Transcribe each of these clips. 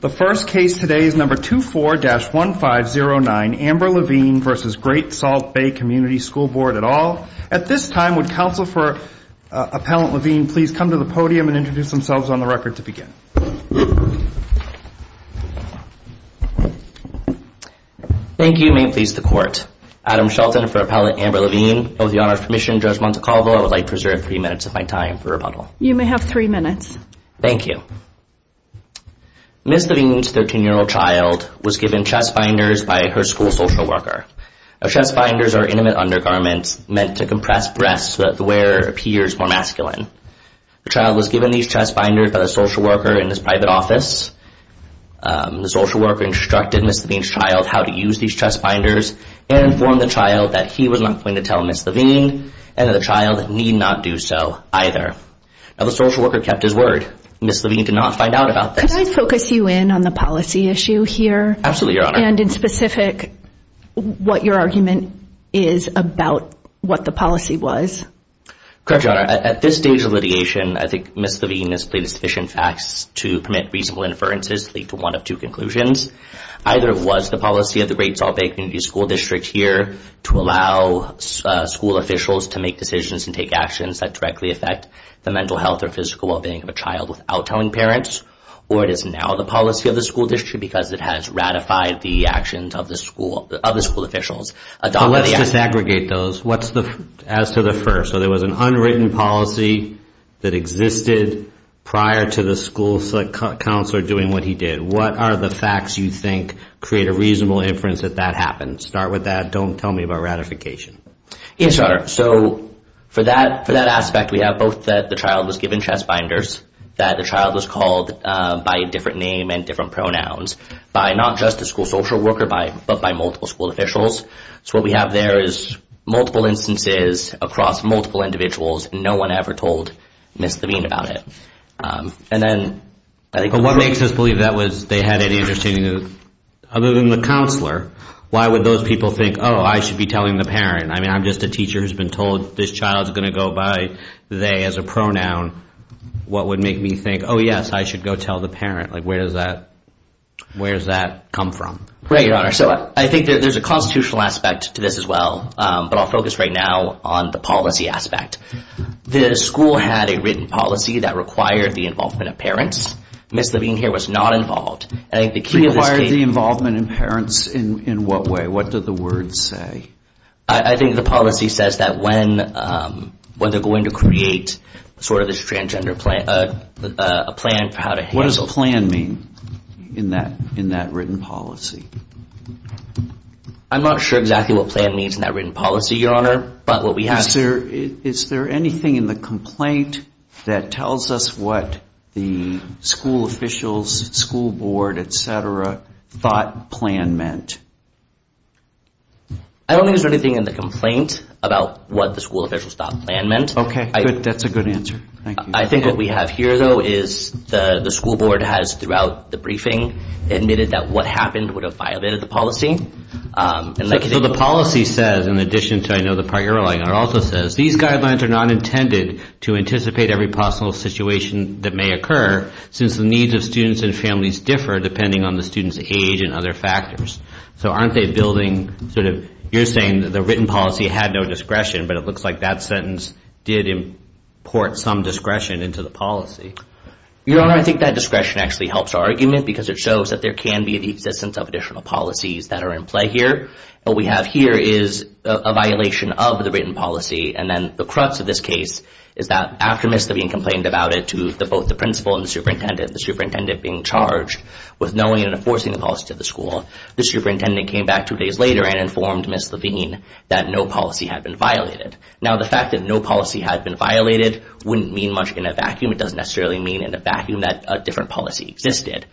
The first case today is No. 24-1509, Amber Levine v. Great Salt Bay Community School Board et al. At this time, would counsel for Appellant Levine please come to the podium and introduce themselves on the record to begin? Thank you, and may it please the Court. Adam Shelton for Appellant Amber Levine, and with the Honor's permission, Judge Montecalvo, I would like to reserve three minutes of my time for rebuttal. You may have three minutes. Thank you. Ms. Levine's 13-year-old child was given chest binders by her school social worker. Chest binders are intimate undergarments meant to compress breasts so that the wearer appears more masculine. The child was given these chest binders by the social worker in his private office. The social worker instructed Ms. Levine's child how to use these chest binders and informed the child that he was not going to tell Ms. Levine, and that the child need not do so either. Now, the social worker kept his word. Ms. Levine did not find out about this. Could I focus you in on the policy issue here? Absolutely, Your Honor. And in specific, what your argument is about what the policy was? Correct, Your Honor. At this stage of litigation, I think Ms. Levine has played sufficient facts to permit reasonable inferences to lead to one of two conclusions. Either it was the policy of the Great Salt Lake Community School District here to allow school officials to make decisions and take actions that directly affect the mental health or physical well-being of a child without telling parents, or it is now the policy of the school district because it has ratified the actions of the school officials. Let's just aggregate those. As to the first, so there was an unwritten policy that existed prior to the school counselor doing what he did. What are the facts you think create a reasonable inference that that happened? Start with that. And then don't tell me about ratification. Yes, Your Honor. So for that aspect, we have both that the child was given chest binders, that the child was called by a different name and different pronouns, by not just a school social worker but by multiple school officials. So what we have there is multiple instances across multiple individuals. No one ever told Ms. Levine about it. And then I think... But what makes us believe that was, they had any interest in, other than the counselor, why would those people think, oh, I should be telling the parent? I mean, I'm just a teacher who's been told this child is going to go by they as a pronoun. What would make me think, oh, yes, I should go tell the parent? Like, where does that come from? Right, Your Honor. So I think there's a constitutional aspect to this as well, but I'll focus right now on the policy aspect. The school had a written policy that required the involvement of parents. Ms. Levine here was not involved. It required the involvement of parents in what way? What did the words say? I think the policy says that when they're going to create sort of this transgender plan, a plan for how to handle... What does a plan mean in that written policy? I'm not sure exactly what plan means in that written policy, Your Honor, but what we have... Is there anything in the complaint that tells us what the school officials, school board, et cetera, thought plan meant? I don't think there's anything in the complaint about what the school officials thought plan meant. Okay, that's a good answer. Thank you. I think what we have here, though, is the school board has, throughout the briefing, admitted that what happened would have violated the policy. So the policy says, in addition to I know the part you're relying on, it also says, these guidelines are not intended to anticipate every possible situation that may occur since the needs of students and families differ depending on the student's age and other factors. So aren't they building sort of... You're saying that the written policy had no discretion, but it looks like that sentence did import some discretion into the policy. Your Honor, I think that discretion actually helps our argument because it shows that there can be the existence of additional policies that are in play here. What we have here is a violation of the written policy, and then the crux of this case is that after Ms. Levine complained about it to both the principal and the superintendent, the superintendent being charged with knowing and enforcing the policy to the school, the superintendent came back two days later and informed Ms. Levine that no policy had been violated. Now, the fact that no policy had been violated wouldn't mean much in a vacuum. It doesn't necessarily mean in a vacuum that a different policy existed.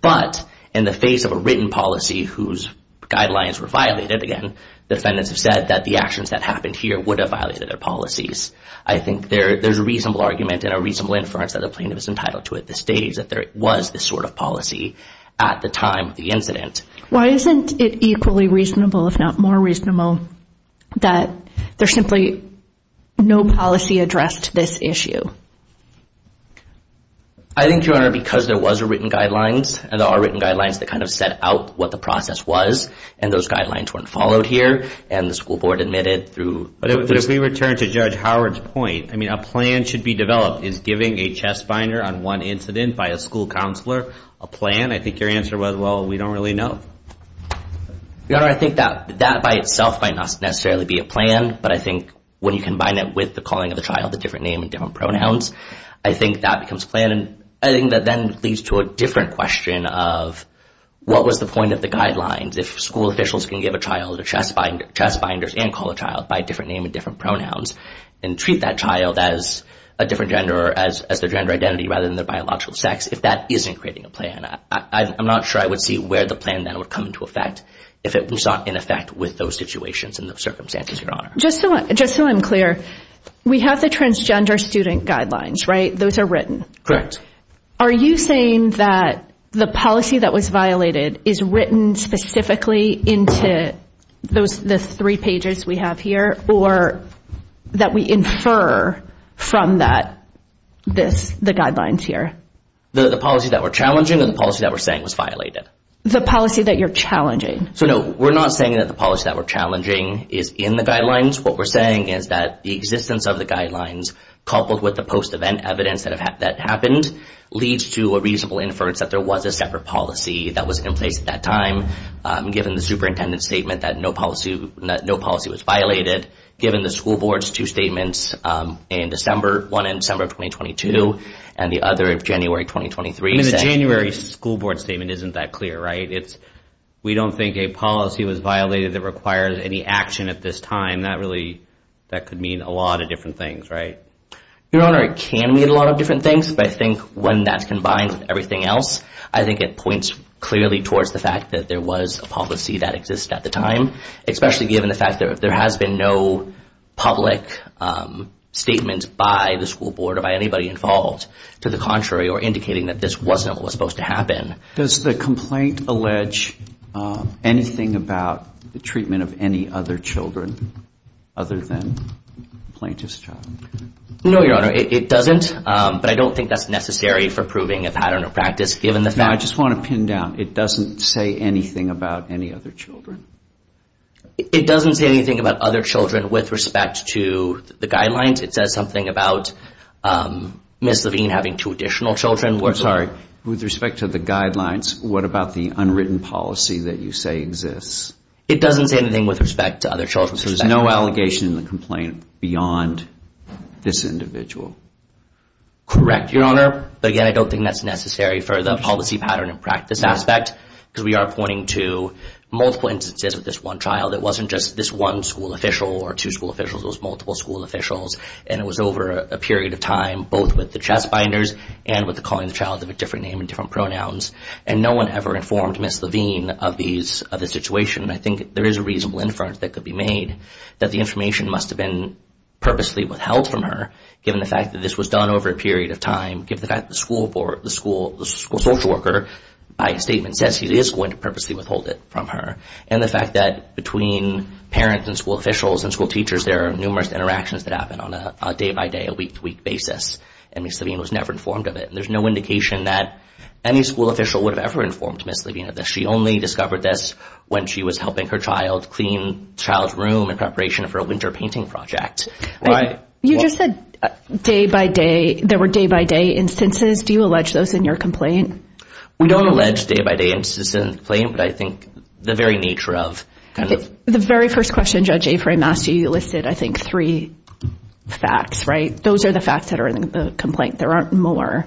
But in the face of a written policy whose guidelines were violated, again, the defendants have said that the actions that happened here would have violated their policies. I think there's a reasonable argument and a reasonable inference that a plaintiff is entitled to at this stage that there was this sort of policy at the time of the incident. Why isn't it equally reasonable, if not more reasonable, that there's simply no policy addressed this issue? I think, Your Honor, because there was a written guidelines, and there are written guidelines that kind of set out what the process was, and those guidelines weren't followed here, and the school board admitted through... But if we return to Judge Howard's point, I mean, a plan should be developed. Is giving a chest binder on one incident by a school counselor a plan? I think your answer was, well, we don't really know. Your Honor, I think that that by itself might not necessarily be a plan, but I think when you combine that with the calling of the child a different name and different pronouns, I think that becomes a plan. I think that then leads to a different question of what was the point of the guidelines. If school officials can give a child a chest binder and call a child by a different name and different pronouns, and treat that child as a different gender or as their gender identity rather than their biological sex, if that isn't creating a plan, I'm not sure I would see where the plan then would come into effect if it was not in effect with those situations and those circumstances, Your Honor. Just so I'm clear, we have the transgender student guidelines, right? Those are written? Are you saying that the policy that was violated is written specifically into the three pages we have here or that we infer from that, the guidelines here? The policy that we're challenging or the policy that we're saying was violated? The policy that you're challenging. No, we're not saying that the policy that we're challenging is in the guidelines. What we're saying is that the existence of the guidelines coupled with the post-event evidence that happened leads to a reasonable inference that there was a separate policy that was in place at that time, given the superintendent's statement that no policy was violated, given the school board's two statements, one in December of 2022 and the other of January 2023. The January school board statement isn't that clear, right? We don't think a policy was violated that requires any action at this time. That really could mean a lot of different things, right? Your Honor, it can mean a lot of different things, but I think when that's combined with everything else, I think it points clearly towards the fact that there was a policy that existed at the time, especially given the fact that there has been no public statement by the school board or by anybody involved to the contrary or indicating that this wasn't what was supposed to happen. Does the complaint allege anything about the treatment of any other children other than the plaintiff's child? No, Your Honor, it doesn't, but I don't think that's necessary for proving a pattern of practice given the fact... No, I just want to pin down, it doesn't say anything about any other children? It doesn't say anything about other children with respect to the guidelines. It says something about Ms. Levine having two additional children. With respect to the guidelines, what about the unwritten policy that you say exists? It doesn't say anything with respect to other children. So there's no allegation in the complaint beyond this individual? Correct, Your Honor, but again, I don't think that's necessary for the policy pattern and practice aspect because we are pointing to multiple instances of this one child. It wasn't just this one school official or two school officials, it was multiple school officials, and it was over a period of time, both with the chest binders and with the calling the child of a different name and different pronouns, and no one ever informed Ms. Levine of the situation, and I think there is a reasonable inference that could be made that the information must have been purposely withheld from her, given the fact that this was done over a period of time, given the fact that the school social worker, by statement, says he is going to purposely withhold it from her, and the fact that between parents and school officials and school teachers, there are numerous interactions that happen on a day-by-day, a week-to-week basis, and Ms. Levine was never informed of it, and there's no indication that any school official would have ever informed Ms. Levine of this. She only discovered this when she was helping her child clean the child's room in preparation for a winter painting project. You just said day-by-day, there were day-by-day instances. Do you allege those in your complaint? We don't allege day-by-day instances in the complaint, but I think the very nature of The very first question Judge Aframe asked you, you listed, I think, three facts, right? Those are the facts that are in the complaint. There aren't more.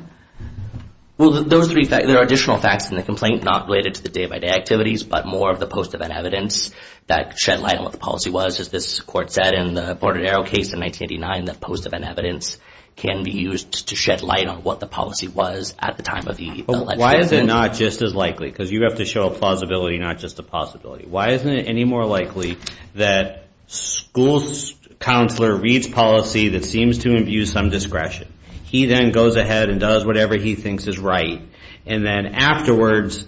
Well, those three facts, there are additional facts in the complaint, not related to the day-by-day activities, but more of the post-event evidence that shed light on what the policy was, as this court said in the Borderell case in 1989, that post-event evidence can be used to shed light on what the policy was at the time of the election. Why is it not just as likely? Because you have to show a plausibility, not just a possibility. Why isn't it any more likely that school counselor reads policy that seems to imbue some discretion? He then goes ahead and does whatever he thinks is right, and then afterwards,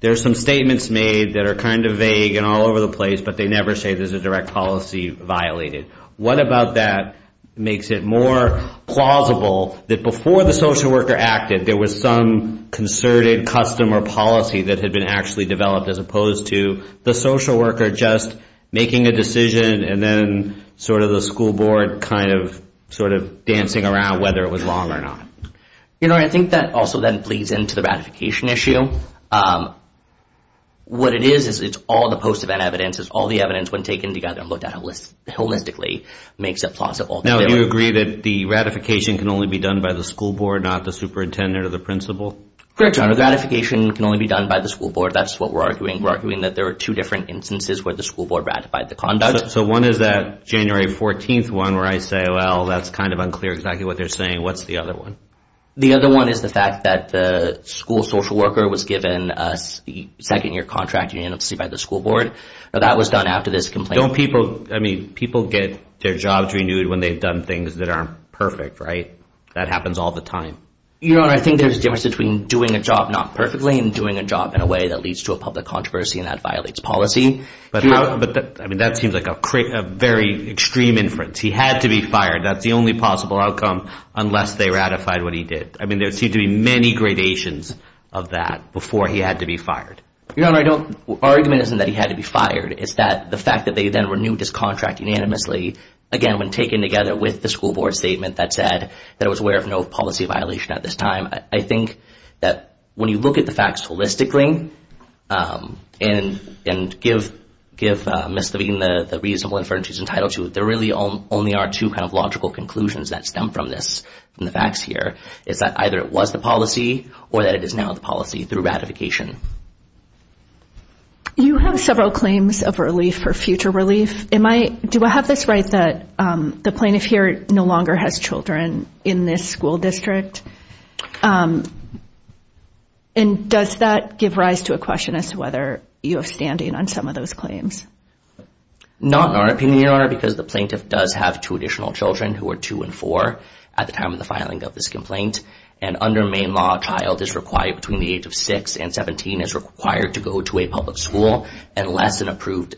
there are some statements made that are kind of vague and all over the place, but they never say there's a direct policy violated. What about that makes it more plausible that before the social worker acted, there was some concerted custom or policy that had been actually developed, as opposed to the social worker just making a decision, and then sort of the school board kind of sort of dancing around whether it was wrong or not? You know, I think that also then bleeds into the ratification issue. What it is, is it's all the post-event evidence. It's all the evidence, when taken together and looked at holistically, makes it plausible. Now, you agree that the ratification can only be done by the school board, not the superintendent or the principal? Correct, Your Honor. The ratification can only be done by the school board. That's what we're arguing. We're arguing that there are two different instances where the school board ratified the conduct. So one is that January 14th one, where I say, well, that's kind of unclear exactly what they're saying. What's the other one? The other one is the fact that the school social worker was given a second-year contract union, obviously, by the school board. That was done after this complaint. Don't people, I mean, people get their jobs renewed when they've done things that aren't perfect, right? That happens all the time. Your Honor, I think there's a difference between doing a job not perfectly and doing a job in a way that leads to a public controversy and that violates policy. But that seems like a very extreme inference. He had to be fired. That's the only possible outcome unless they ratified what he did. I mean, there seemed to be many gradations of that before he had to be fired. Your Honor, our argument isn't that he had to be fired. It's that the fact that they then renewed his contract unanimously, again, when taken together with the school board statement that said that it was aware of no policy violation at this time. I think that when you look at the facts holistically and give Ms. Levine the reasonable inferences entitled to, there really only are two kind of logical conclusions that stem from this and the facts here. It's that either it was the policy or that it is now the policy through ratification. You have several claims of relief or future relief. Do I have this right that the plaintiff here no longer has children in this school district? And does that give rise to a question as to whether you have standing on some of those claims? Not in our opinion, Your Honor, because the plaintiff does have two additional children who are two and four at the time of the filing of this complaint. And under Maine law, a child between the age of six and 17 is required to go to a public school unless an approved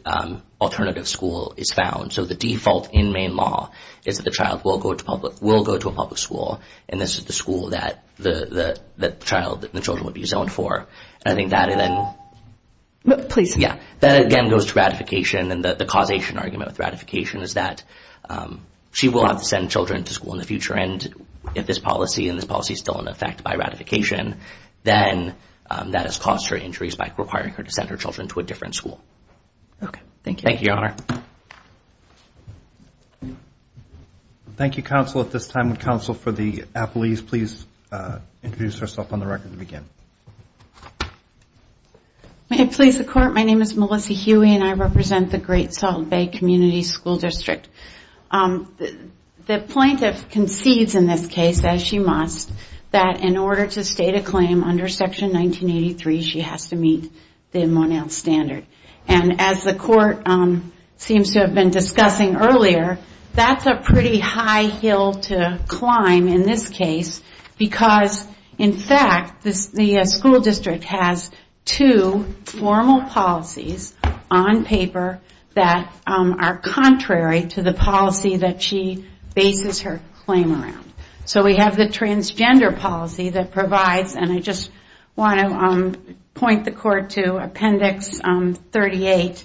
alternative school is found. So the default in Maine law is that the child will go to a public school and this is the school that the child and the children would be zoned for. And I think that again goes to ratification. And the causation argument with ratification is that she will have to send children to school in the future. And if this policy and this policy is still in effect by ratification, then that has cost her injuries by requiring her to send her children to a different school. Okay. Thank you. Thank you, Your Honor. Thank you, counsel. At this time, would counsel for the appellees please introduce herself on the record to begin? May it please the Court. My name is Melissa Huey and I represent the Great Salt Bay Community School District. The plaintiff concedes in this case, as she must, that in order to state a claim under Section 1983, she has to meet the Monell standard. And as the Court seems to have been discussing earlier, that's a pretty high hill to climb in this case because, in fact, the school district has two formal policies on paper that are contrary to the policy that she bases her claim around. So we have the transgender policy that provides, and I just want to point the Court to Appendix 38,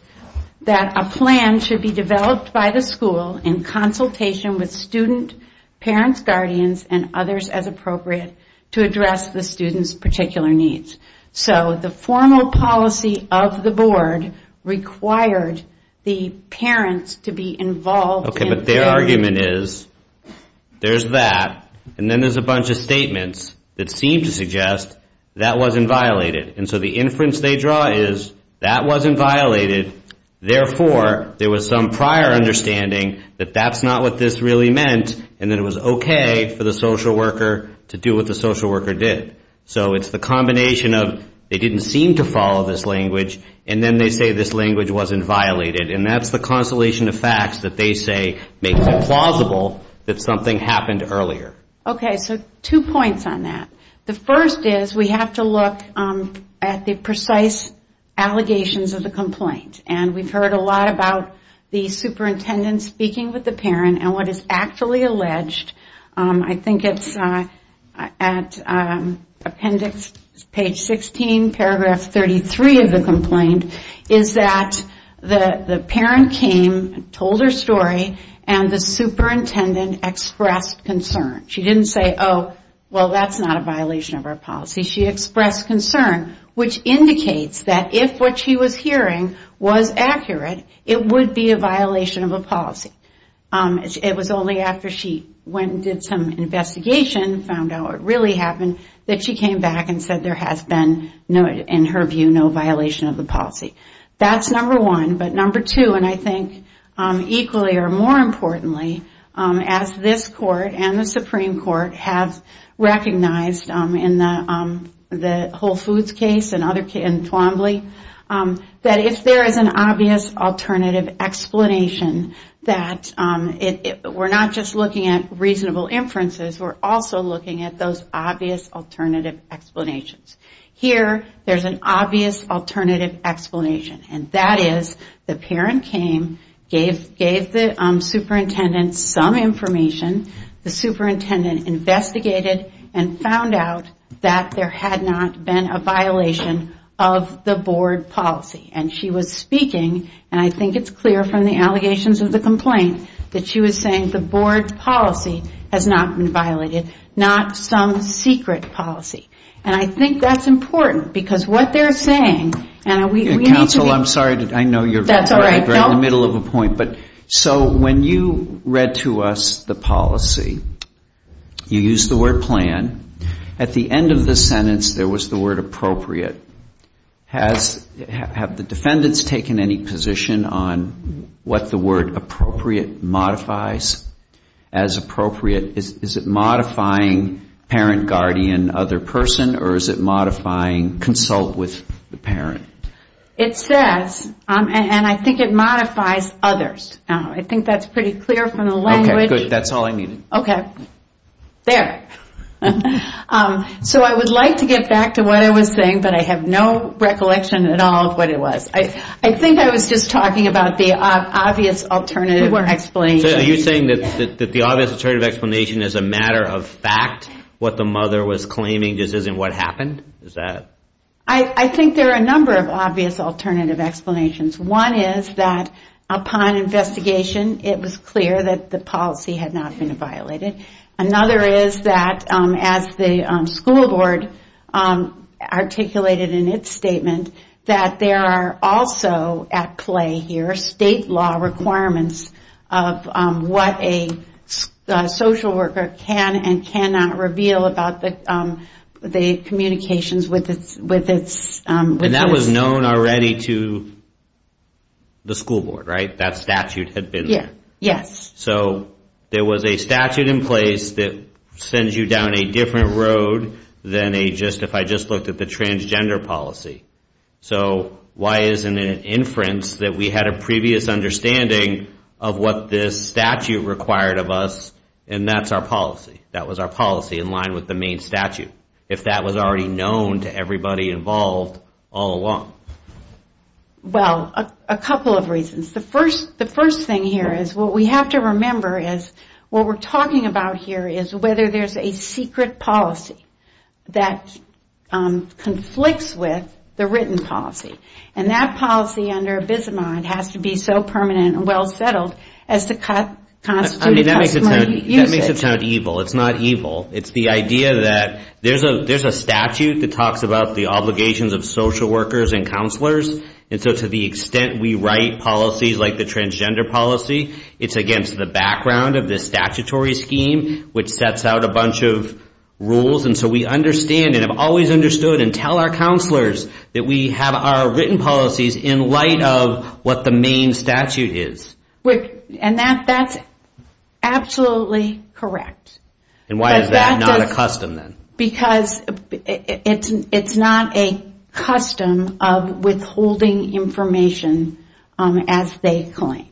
that a plan should be developed by the school in consultation with student, parents, guardians, and others as appropriate to address the student's particular needs. So the formal policy of the board required the parents to be involved in... But their argument is, there's that, and then there's a bunch of statements that seem to suggest that wasn't violated. And so the inference they draw is, that wasn't violated, therefore there was some prior understanding that that's not what this really meant, and that it was okay for the social worker to do what the social worker did. So it's the combination of, they didn't seem to follow this language, and then they say this language wasn't violated. And that's the constellation of facts that they say makes it plausible that something happened earlier. Okay, so two points on that. The first is, we have to look at the precise allegations of the complaint. And we've heard a lot about the superintendent speaking with the parent, and what is actually alleged, I think it's at Appendix page 16, paragraph 33 of the complaint, is that the parent came, told her story, and the superintendent expressed concern. She didn't say, oh, well that's not a violation of our policy. She expressed concern, which indicates that if what she was hearing was accurate, it would be a violation of a policy. It was only after she went and did some investigation, found out what really happened, that she came back and said there has been, in her view, no violation of the policy. That's number one. But number two, and I think equally or more importantly, as this court and the Supreme Court have recognized in the Whole Foods case and Thwombly, that if there is an obvious alternative explanation that we're not just looking at reasonable inferences, we're also looking at those obvious alternative explanations. Here, there's an obvious alternative explanation, and that is the parent came, gave the superintendent some information, the superintendent investigated, and found out that there had not been a violation of the board policy. And she was speaking, and I think it's clear from the allegations of the complaint, that she was saying the board policy has not been violated, not some secret policy. And I think that's important, because what they're saying, and we need to be ---- Counsel, I'm sorry. I know you're right in the middle of a point. So when you read to us the policy, you used the word plan. At the end of the sentence, there was the word appropriate. Have the defendants taken any position on what the word appropriate modifies as appropriate? Is it modifying parent, guardian, other person, or is it modifying consult with the parent? It says, and I think it modifies others. I think that's pretty clear from the language. Okay, good. That's all I needed. Okay. There. So I would like to get back to what I was saying, but I have no recollection at all of what it was. I think I was just talking about the obvious alternative explanation. Are you saying that the obvious alternative explanation is a matter of fact, what the mother was claiming just isn't what happened? Is that? I think there are a number of obvious alternative explanations. One is that upon investigation, it was clear that the policy had not been violated. Another is that as the school board articulated in its statement, that there are also at play here state law requirements of what a social worker can and cannot reveal about the communications with its- And that was known already to the school board, right? That statute had been there. Yes. So there was a statute in place that sends you down a different road than a just- if I just looked at the transgender policy. So why isn't it inference that we had a previous understanding of what this statute required of us, and that's our policy? That was our policy in line with the main statute, if that was already known to everybody involved all along? Well, a couple of reasons. The first thing here is what we have to remember is what we're talking about here is whether there's a secret policy that conflicts with the written policy, and that policy under abysmal has to be so permanent and well-settled as to constitute- That makes it sound evil. It's not evil. It's the idea that there's a statute that talks about the obligations of social workers and counselors, and so to the extent we write policies like the transgender policy, it's against the background of the statutory scheme, which sets out a bunch of rules, and so we understand and have always understood and tell our counselors that we have our written policies in light of what the main statute is. And that's absolutely correct. And why is that not a custom then? Because it's not a custom of withholding information as they claim.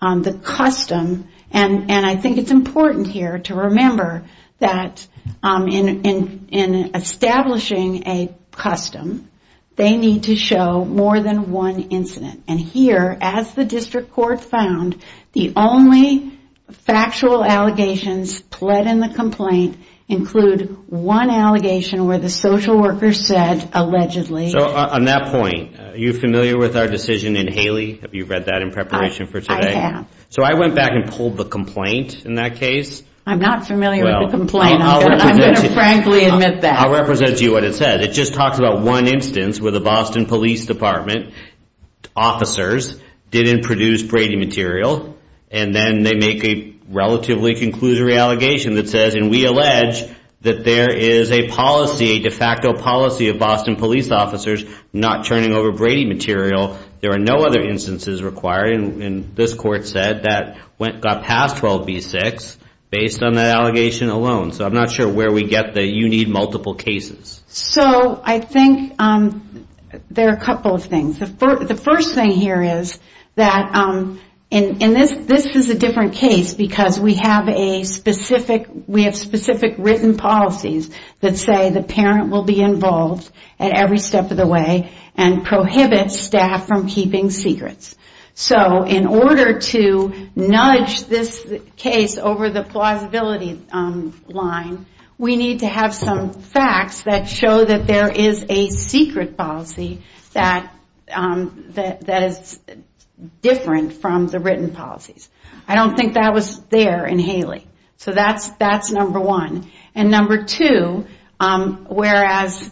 The custom, and I think it's important here to remember that in establishing a custom, they need to show more than one incident, and here, as the district court found, the only factual allegations pled in the complaint include one allegation where the social worker said allegedly- So on that point, are you familiar with our decision in Haley? Have you read that in preparation for today? I have. So I went back and pulled the complaint in that case. I'm not familiar with the complaint. I'm going to frankly admit that. I'll represent to you what it said. It just talks about one instance where the Boston Police Department officers didn't produce Brady material, and then they make a relatively conclusory allegation that says, and we allege that there is a policy, a de facto policy, of Boston police officers not turning over Brady material. There are no other instances required, and this court said that got past 12B6 based on that allegation alone. So I'm not sure where we get the you need multiple cases. So I think there are a couple of things. The first thing here is that this is a different case because we have specific written policies that say the parent will be involved at every step of the way and prohibit staff from keeping secrets. So in order to nudge this case over the plausibility line, we need to have some facts that show that there is a secret policy that is different from the written policies. I don't think that was there in Haley. So that's number one. And number two, whereas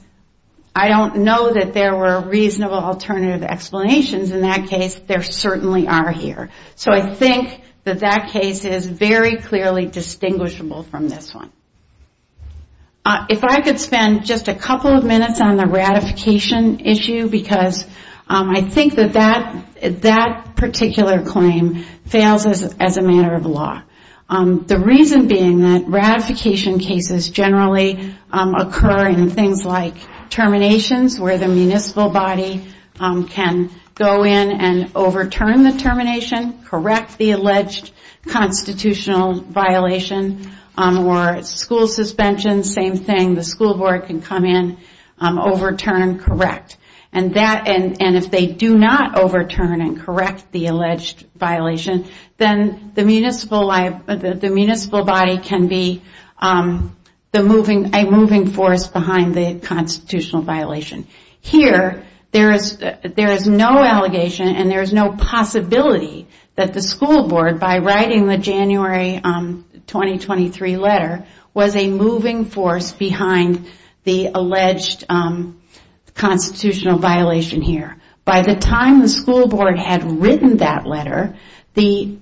I don't know that there were reasonable alternative explanations in that case, there certainly are here. So I think that that case is very clearly distinguishable from this one. If I could spend just a couple of minutes on the ratification issue, because I think that that particular claim fails as a matter of law. The reason being that ratification cases generally occur in things like terminations where the municipal body can go in and overturn the termination, correct the alleged constitutional violation, or school suspension, same thing, the school board can come in, overturn, correct. And if they do not overturn and correct the alleged violation, then the municipal body can be a moving force behind the constitutional violation. Here, there is no allegation and there is no possibility that the school board, by writing the January 2023 letter, was a moving force behind the alleged constitutional violation here. By the time the school board had written that letter, the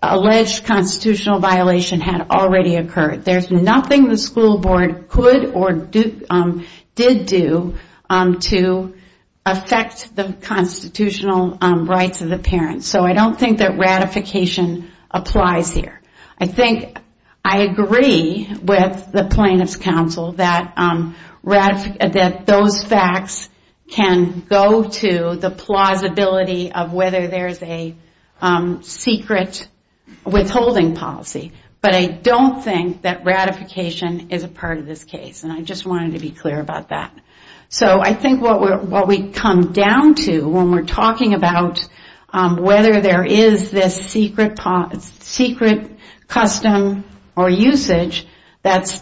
alleged constitutional violation had already occurred. There is nothing the school board could or did do to affect the constitutional rights of the parents. So I don't think that ratification applies here. I think I agree with the plaintiff's counsel that those facts can go to the plausibility of whether there is a secret withholding policy. But I don't think that ratification is a part of this case. And I just wanted to be clear about that. So I think what we come down to when we're talking about whether there is this secret custom or usage that's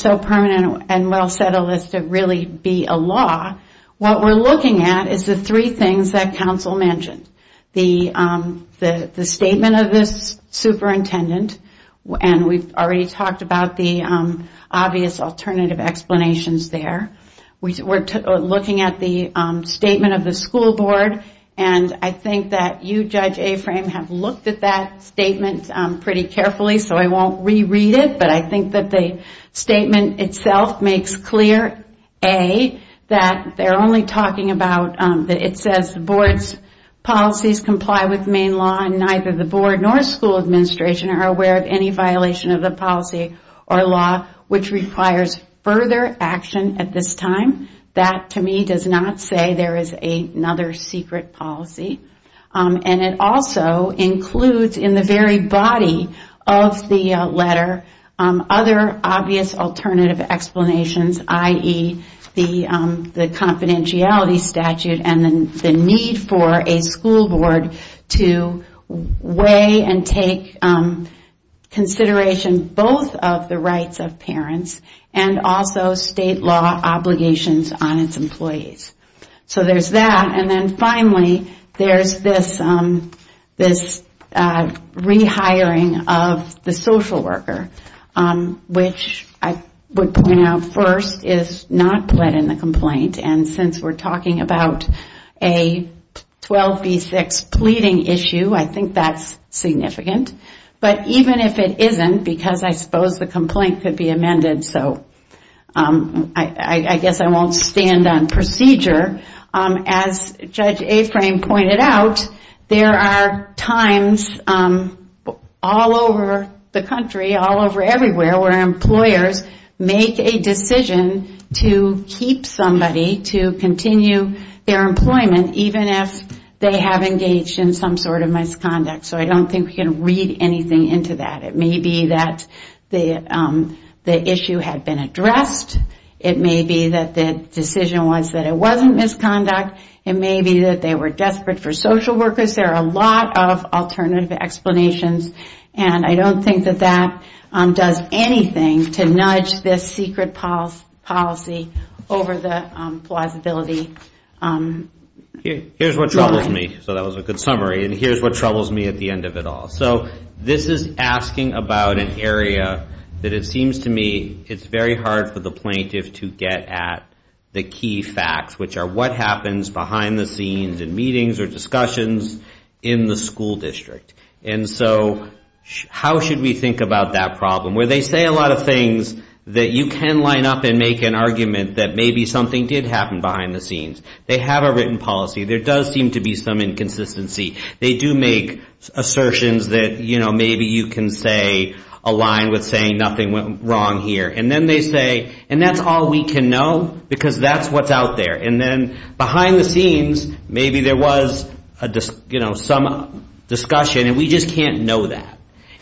so permanent and well-settled as to really be a law, what we're looking at is the three things that counsel mentioned. The statement of the superintendent, and we've already talked about the obvious alternative explanations there. We're looking at the statement of the school board. And I think that you, Judge Aframe, have looked at that statement pretty carefully, so I won't reread it. But I think that the statement itself makes clear, A, that they're only talking about, that it says the board's policies comply with main law and neither the board nor school administration are aware of any violation of the policy or law which requires further action at this time. That, to me, does not say there is another secret policy. And it also includes in the very body of the letter other obvious alternative explanations, i.e., the confidentiality statute and the need for a school board to weigh and take consideration both of the rights of parents and also state law obligations on its employees. So there's that. And then finally, there's this rehiring of the social worker, which I would point out first is not pled in the complaint, and since we're talking about a 12B6 pleading issue, I think that's significant. But even if it isn't, because I suppose the complaint could be amended, so I guess I won't stand on procedure, as Judge Aframe pointed out, there are times all over the country, all over everywhere where employers make a decision to keep somebody to continue their employment, even if they have engaged in some sort of misconduct. So I don't think we can read anything into that. It may be that the issue had been addressed. It may be that the decision was that it wasn't misconduct. It may be that they were desperate for social workers. There are a lot of alternative explanations. And I don't think that that does anything to nudge this secret policy over the plausibility. Here's what troubles me. So that was a good summary. And here's what troubles me at the end of it all. So this is asking about an area that it seems to me it's very hard for the plaintiff to get at the key facts, which are what happens behind the scenes in meetings or discussions in the school district. And so how should we think about that problem? Where they say a lot of things that you can line up and make an argument that maybe something did happen behind the scenes. They have a written policy. There does seem to be some inconsistency. They do make assertions that maybe you can say align with saying nothing went wrong here. And then they say and that's all we can know because that's what's out there. And then behind the scenes maybe there was some discussion and we just can't know that.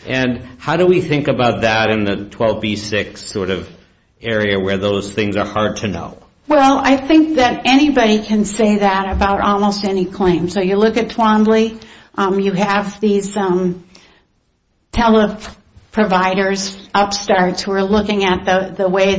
And how do we think about that in the 12B6 sort of area where those things are hard to know? Well, I think that anybody can say that about almost any claim. So you look at Twombly, you have these tele-providers, upstarts who are looking at the way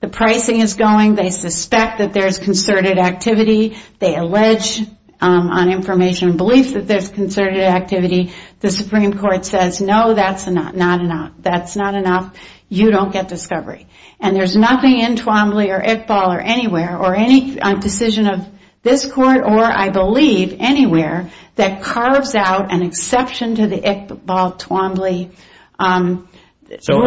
the pricing is going. They suspect that there's concerted activity. They allege on information beliefs that there's concerted activity. The Supreme Court says no, that's not enough. That's not enough. You don't get discovery. And there's nothing in Twombly or Iqbal or anywhere or any decision of this kind that you can believe anywhere that carves out an exception to the Iqbal-Twombly rule for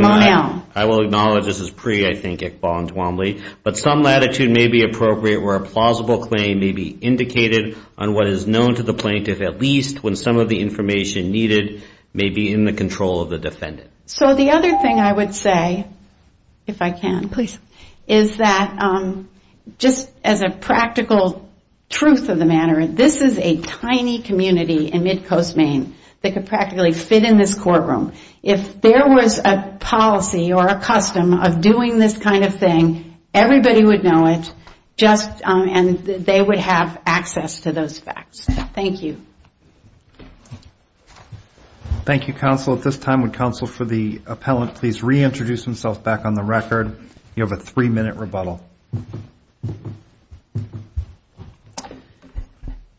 Monel. I will acknowledge this is pre-Iqbal and Twombly. But some latitude may be appropriate where a plausible claim may be indicated on what is known to the plaintiff at least when some of the information needed may be in the control of the defendant. So the other thing I would say, if I can please, is that just as a practical truth of the matter, this is a tiny community in mid-coast Maine that could practically fit in this courtroom. If there was a policy or a custom of doing this kind of thing, everybody would know it, and they would have access to those facts. Thank you. Thank you, counsel. At this time, would counsel for the appellant please reintroduce himself back on the record? You have a three-minute rebuttal.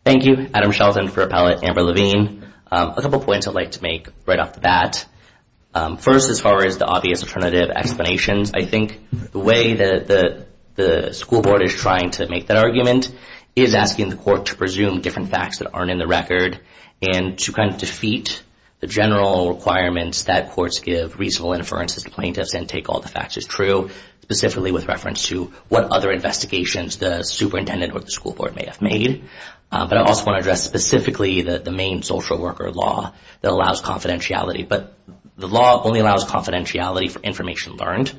Thank you. Adam Shelton for appellate Amber Levine. A couple points I'd like to make right off the bat. First, as far as the obvious alternative explanations, I think the way that the school board is trying to make that argument is asking the court to presume different facts that aren't in the record and to kind of defeat the general requirements that courts give reasonable inferences to plaintiffs and take all the facts as true, specifically with reference to what other investigations the superintendent or the school board may have made. But I also want to address specifically the main social worker law that allows confidentiality. But the law only allows confidentiality for information learned,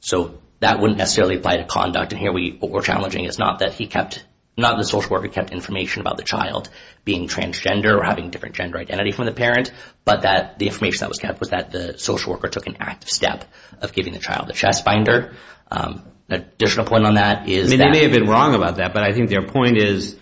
so that wouldn't necessarily apply to conduct. And here what we're challenging is not that the social worker kept information about the child being transgender or having different gender identity from the parent, but that the information that was kept was that the social worker took an active step of giving the child the chest binder. An additional point on that is that... They may have been wrong about that, but I think their point is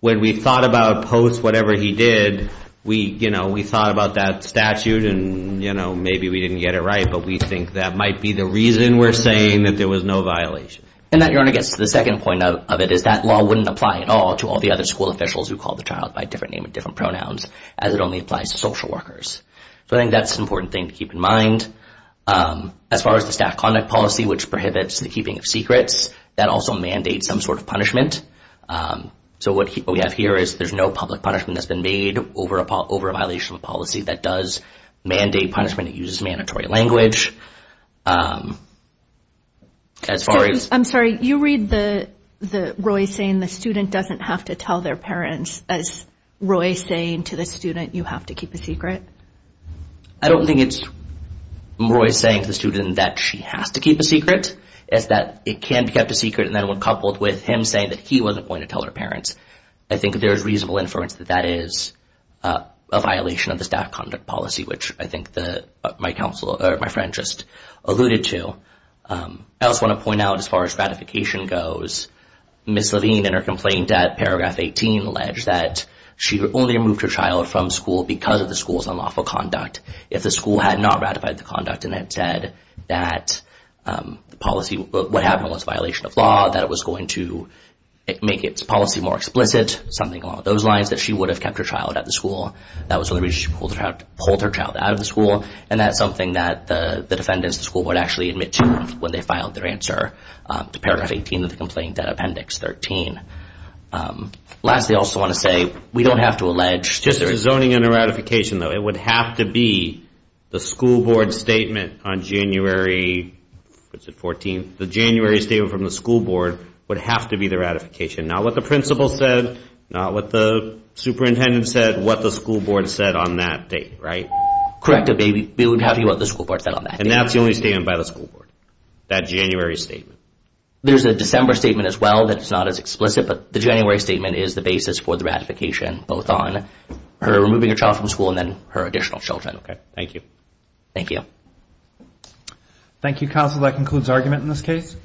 when we thought about post whatever he did, we thought about that statute and maybe we didn't get it right, but we think that might be the reason we're saying that there was no violation. And that gets to the second point of it, is that law wouldn't apply at all to all the other school officials who called the child by a different name and different pronouns, as it only applies to social workers. So I think that's an important thing to keep in mind. As far as the staff conduct policy, which prohibits the keeping of secrets, that also mandates some sort of punishment. So what we have here is there's no public punishment that's been made over a violation of policy that does mandate punishment. It uses mandatory language. As far as... I'm sorry, you read Roy saying the student doesn't have to tell their parents, is Roy saying to the student you have to keep a secret? I don't think it's Roy saying to the student that she has to keep a secret. It's that it can be kept a secret and then when coupled with him saying that he wasn't going to tell her parents. I think there's reasonable inference that that is a violation of the staff conduct policy, which I think my friend just alluded to. I also want to point out as far as ratification goes, Ms. Levine in her complaint at paragraph 18 alleged that she only removed her child from school because of the school's unlawful conduct. If the school had not ratified the conduct and had said that what happened was a violation of law, that it was going to make its policy more explicit, something along those lines, that she would have kept her child at the school. That was when the Registry pulled her child out of the school, and that's something that the defendants at the school would actually admit to when they filed their answer to paragraph 18 of the complaint, appendix 13. Lastly, I also want to say we don't have to allege. Just zoning and a ratification, though. It would have to be the school board statement on January 14th. The January statement from the school board would have to be the ratification, not what the principal said, not what the superintendent said, what the school board said on that date, right? Correct. It would have to be what the school board said on that date. And that's the only statement by the school board, that January statement. There's a December statement as well that's not as explicit, but the January statement is the basis for the ratification, both on her removing her child from school and then her additional children. Okay. Thank you. Thank you. Thank you, counsel. That concludes argument in this case.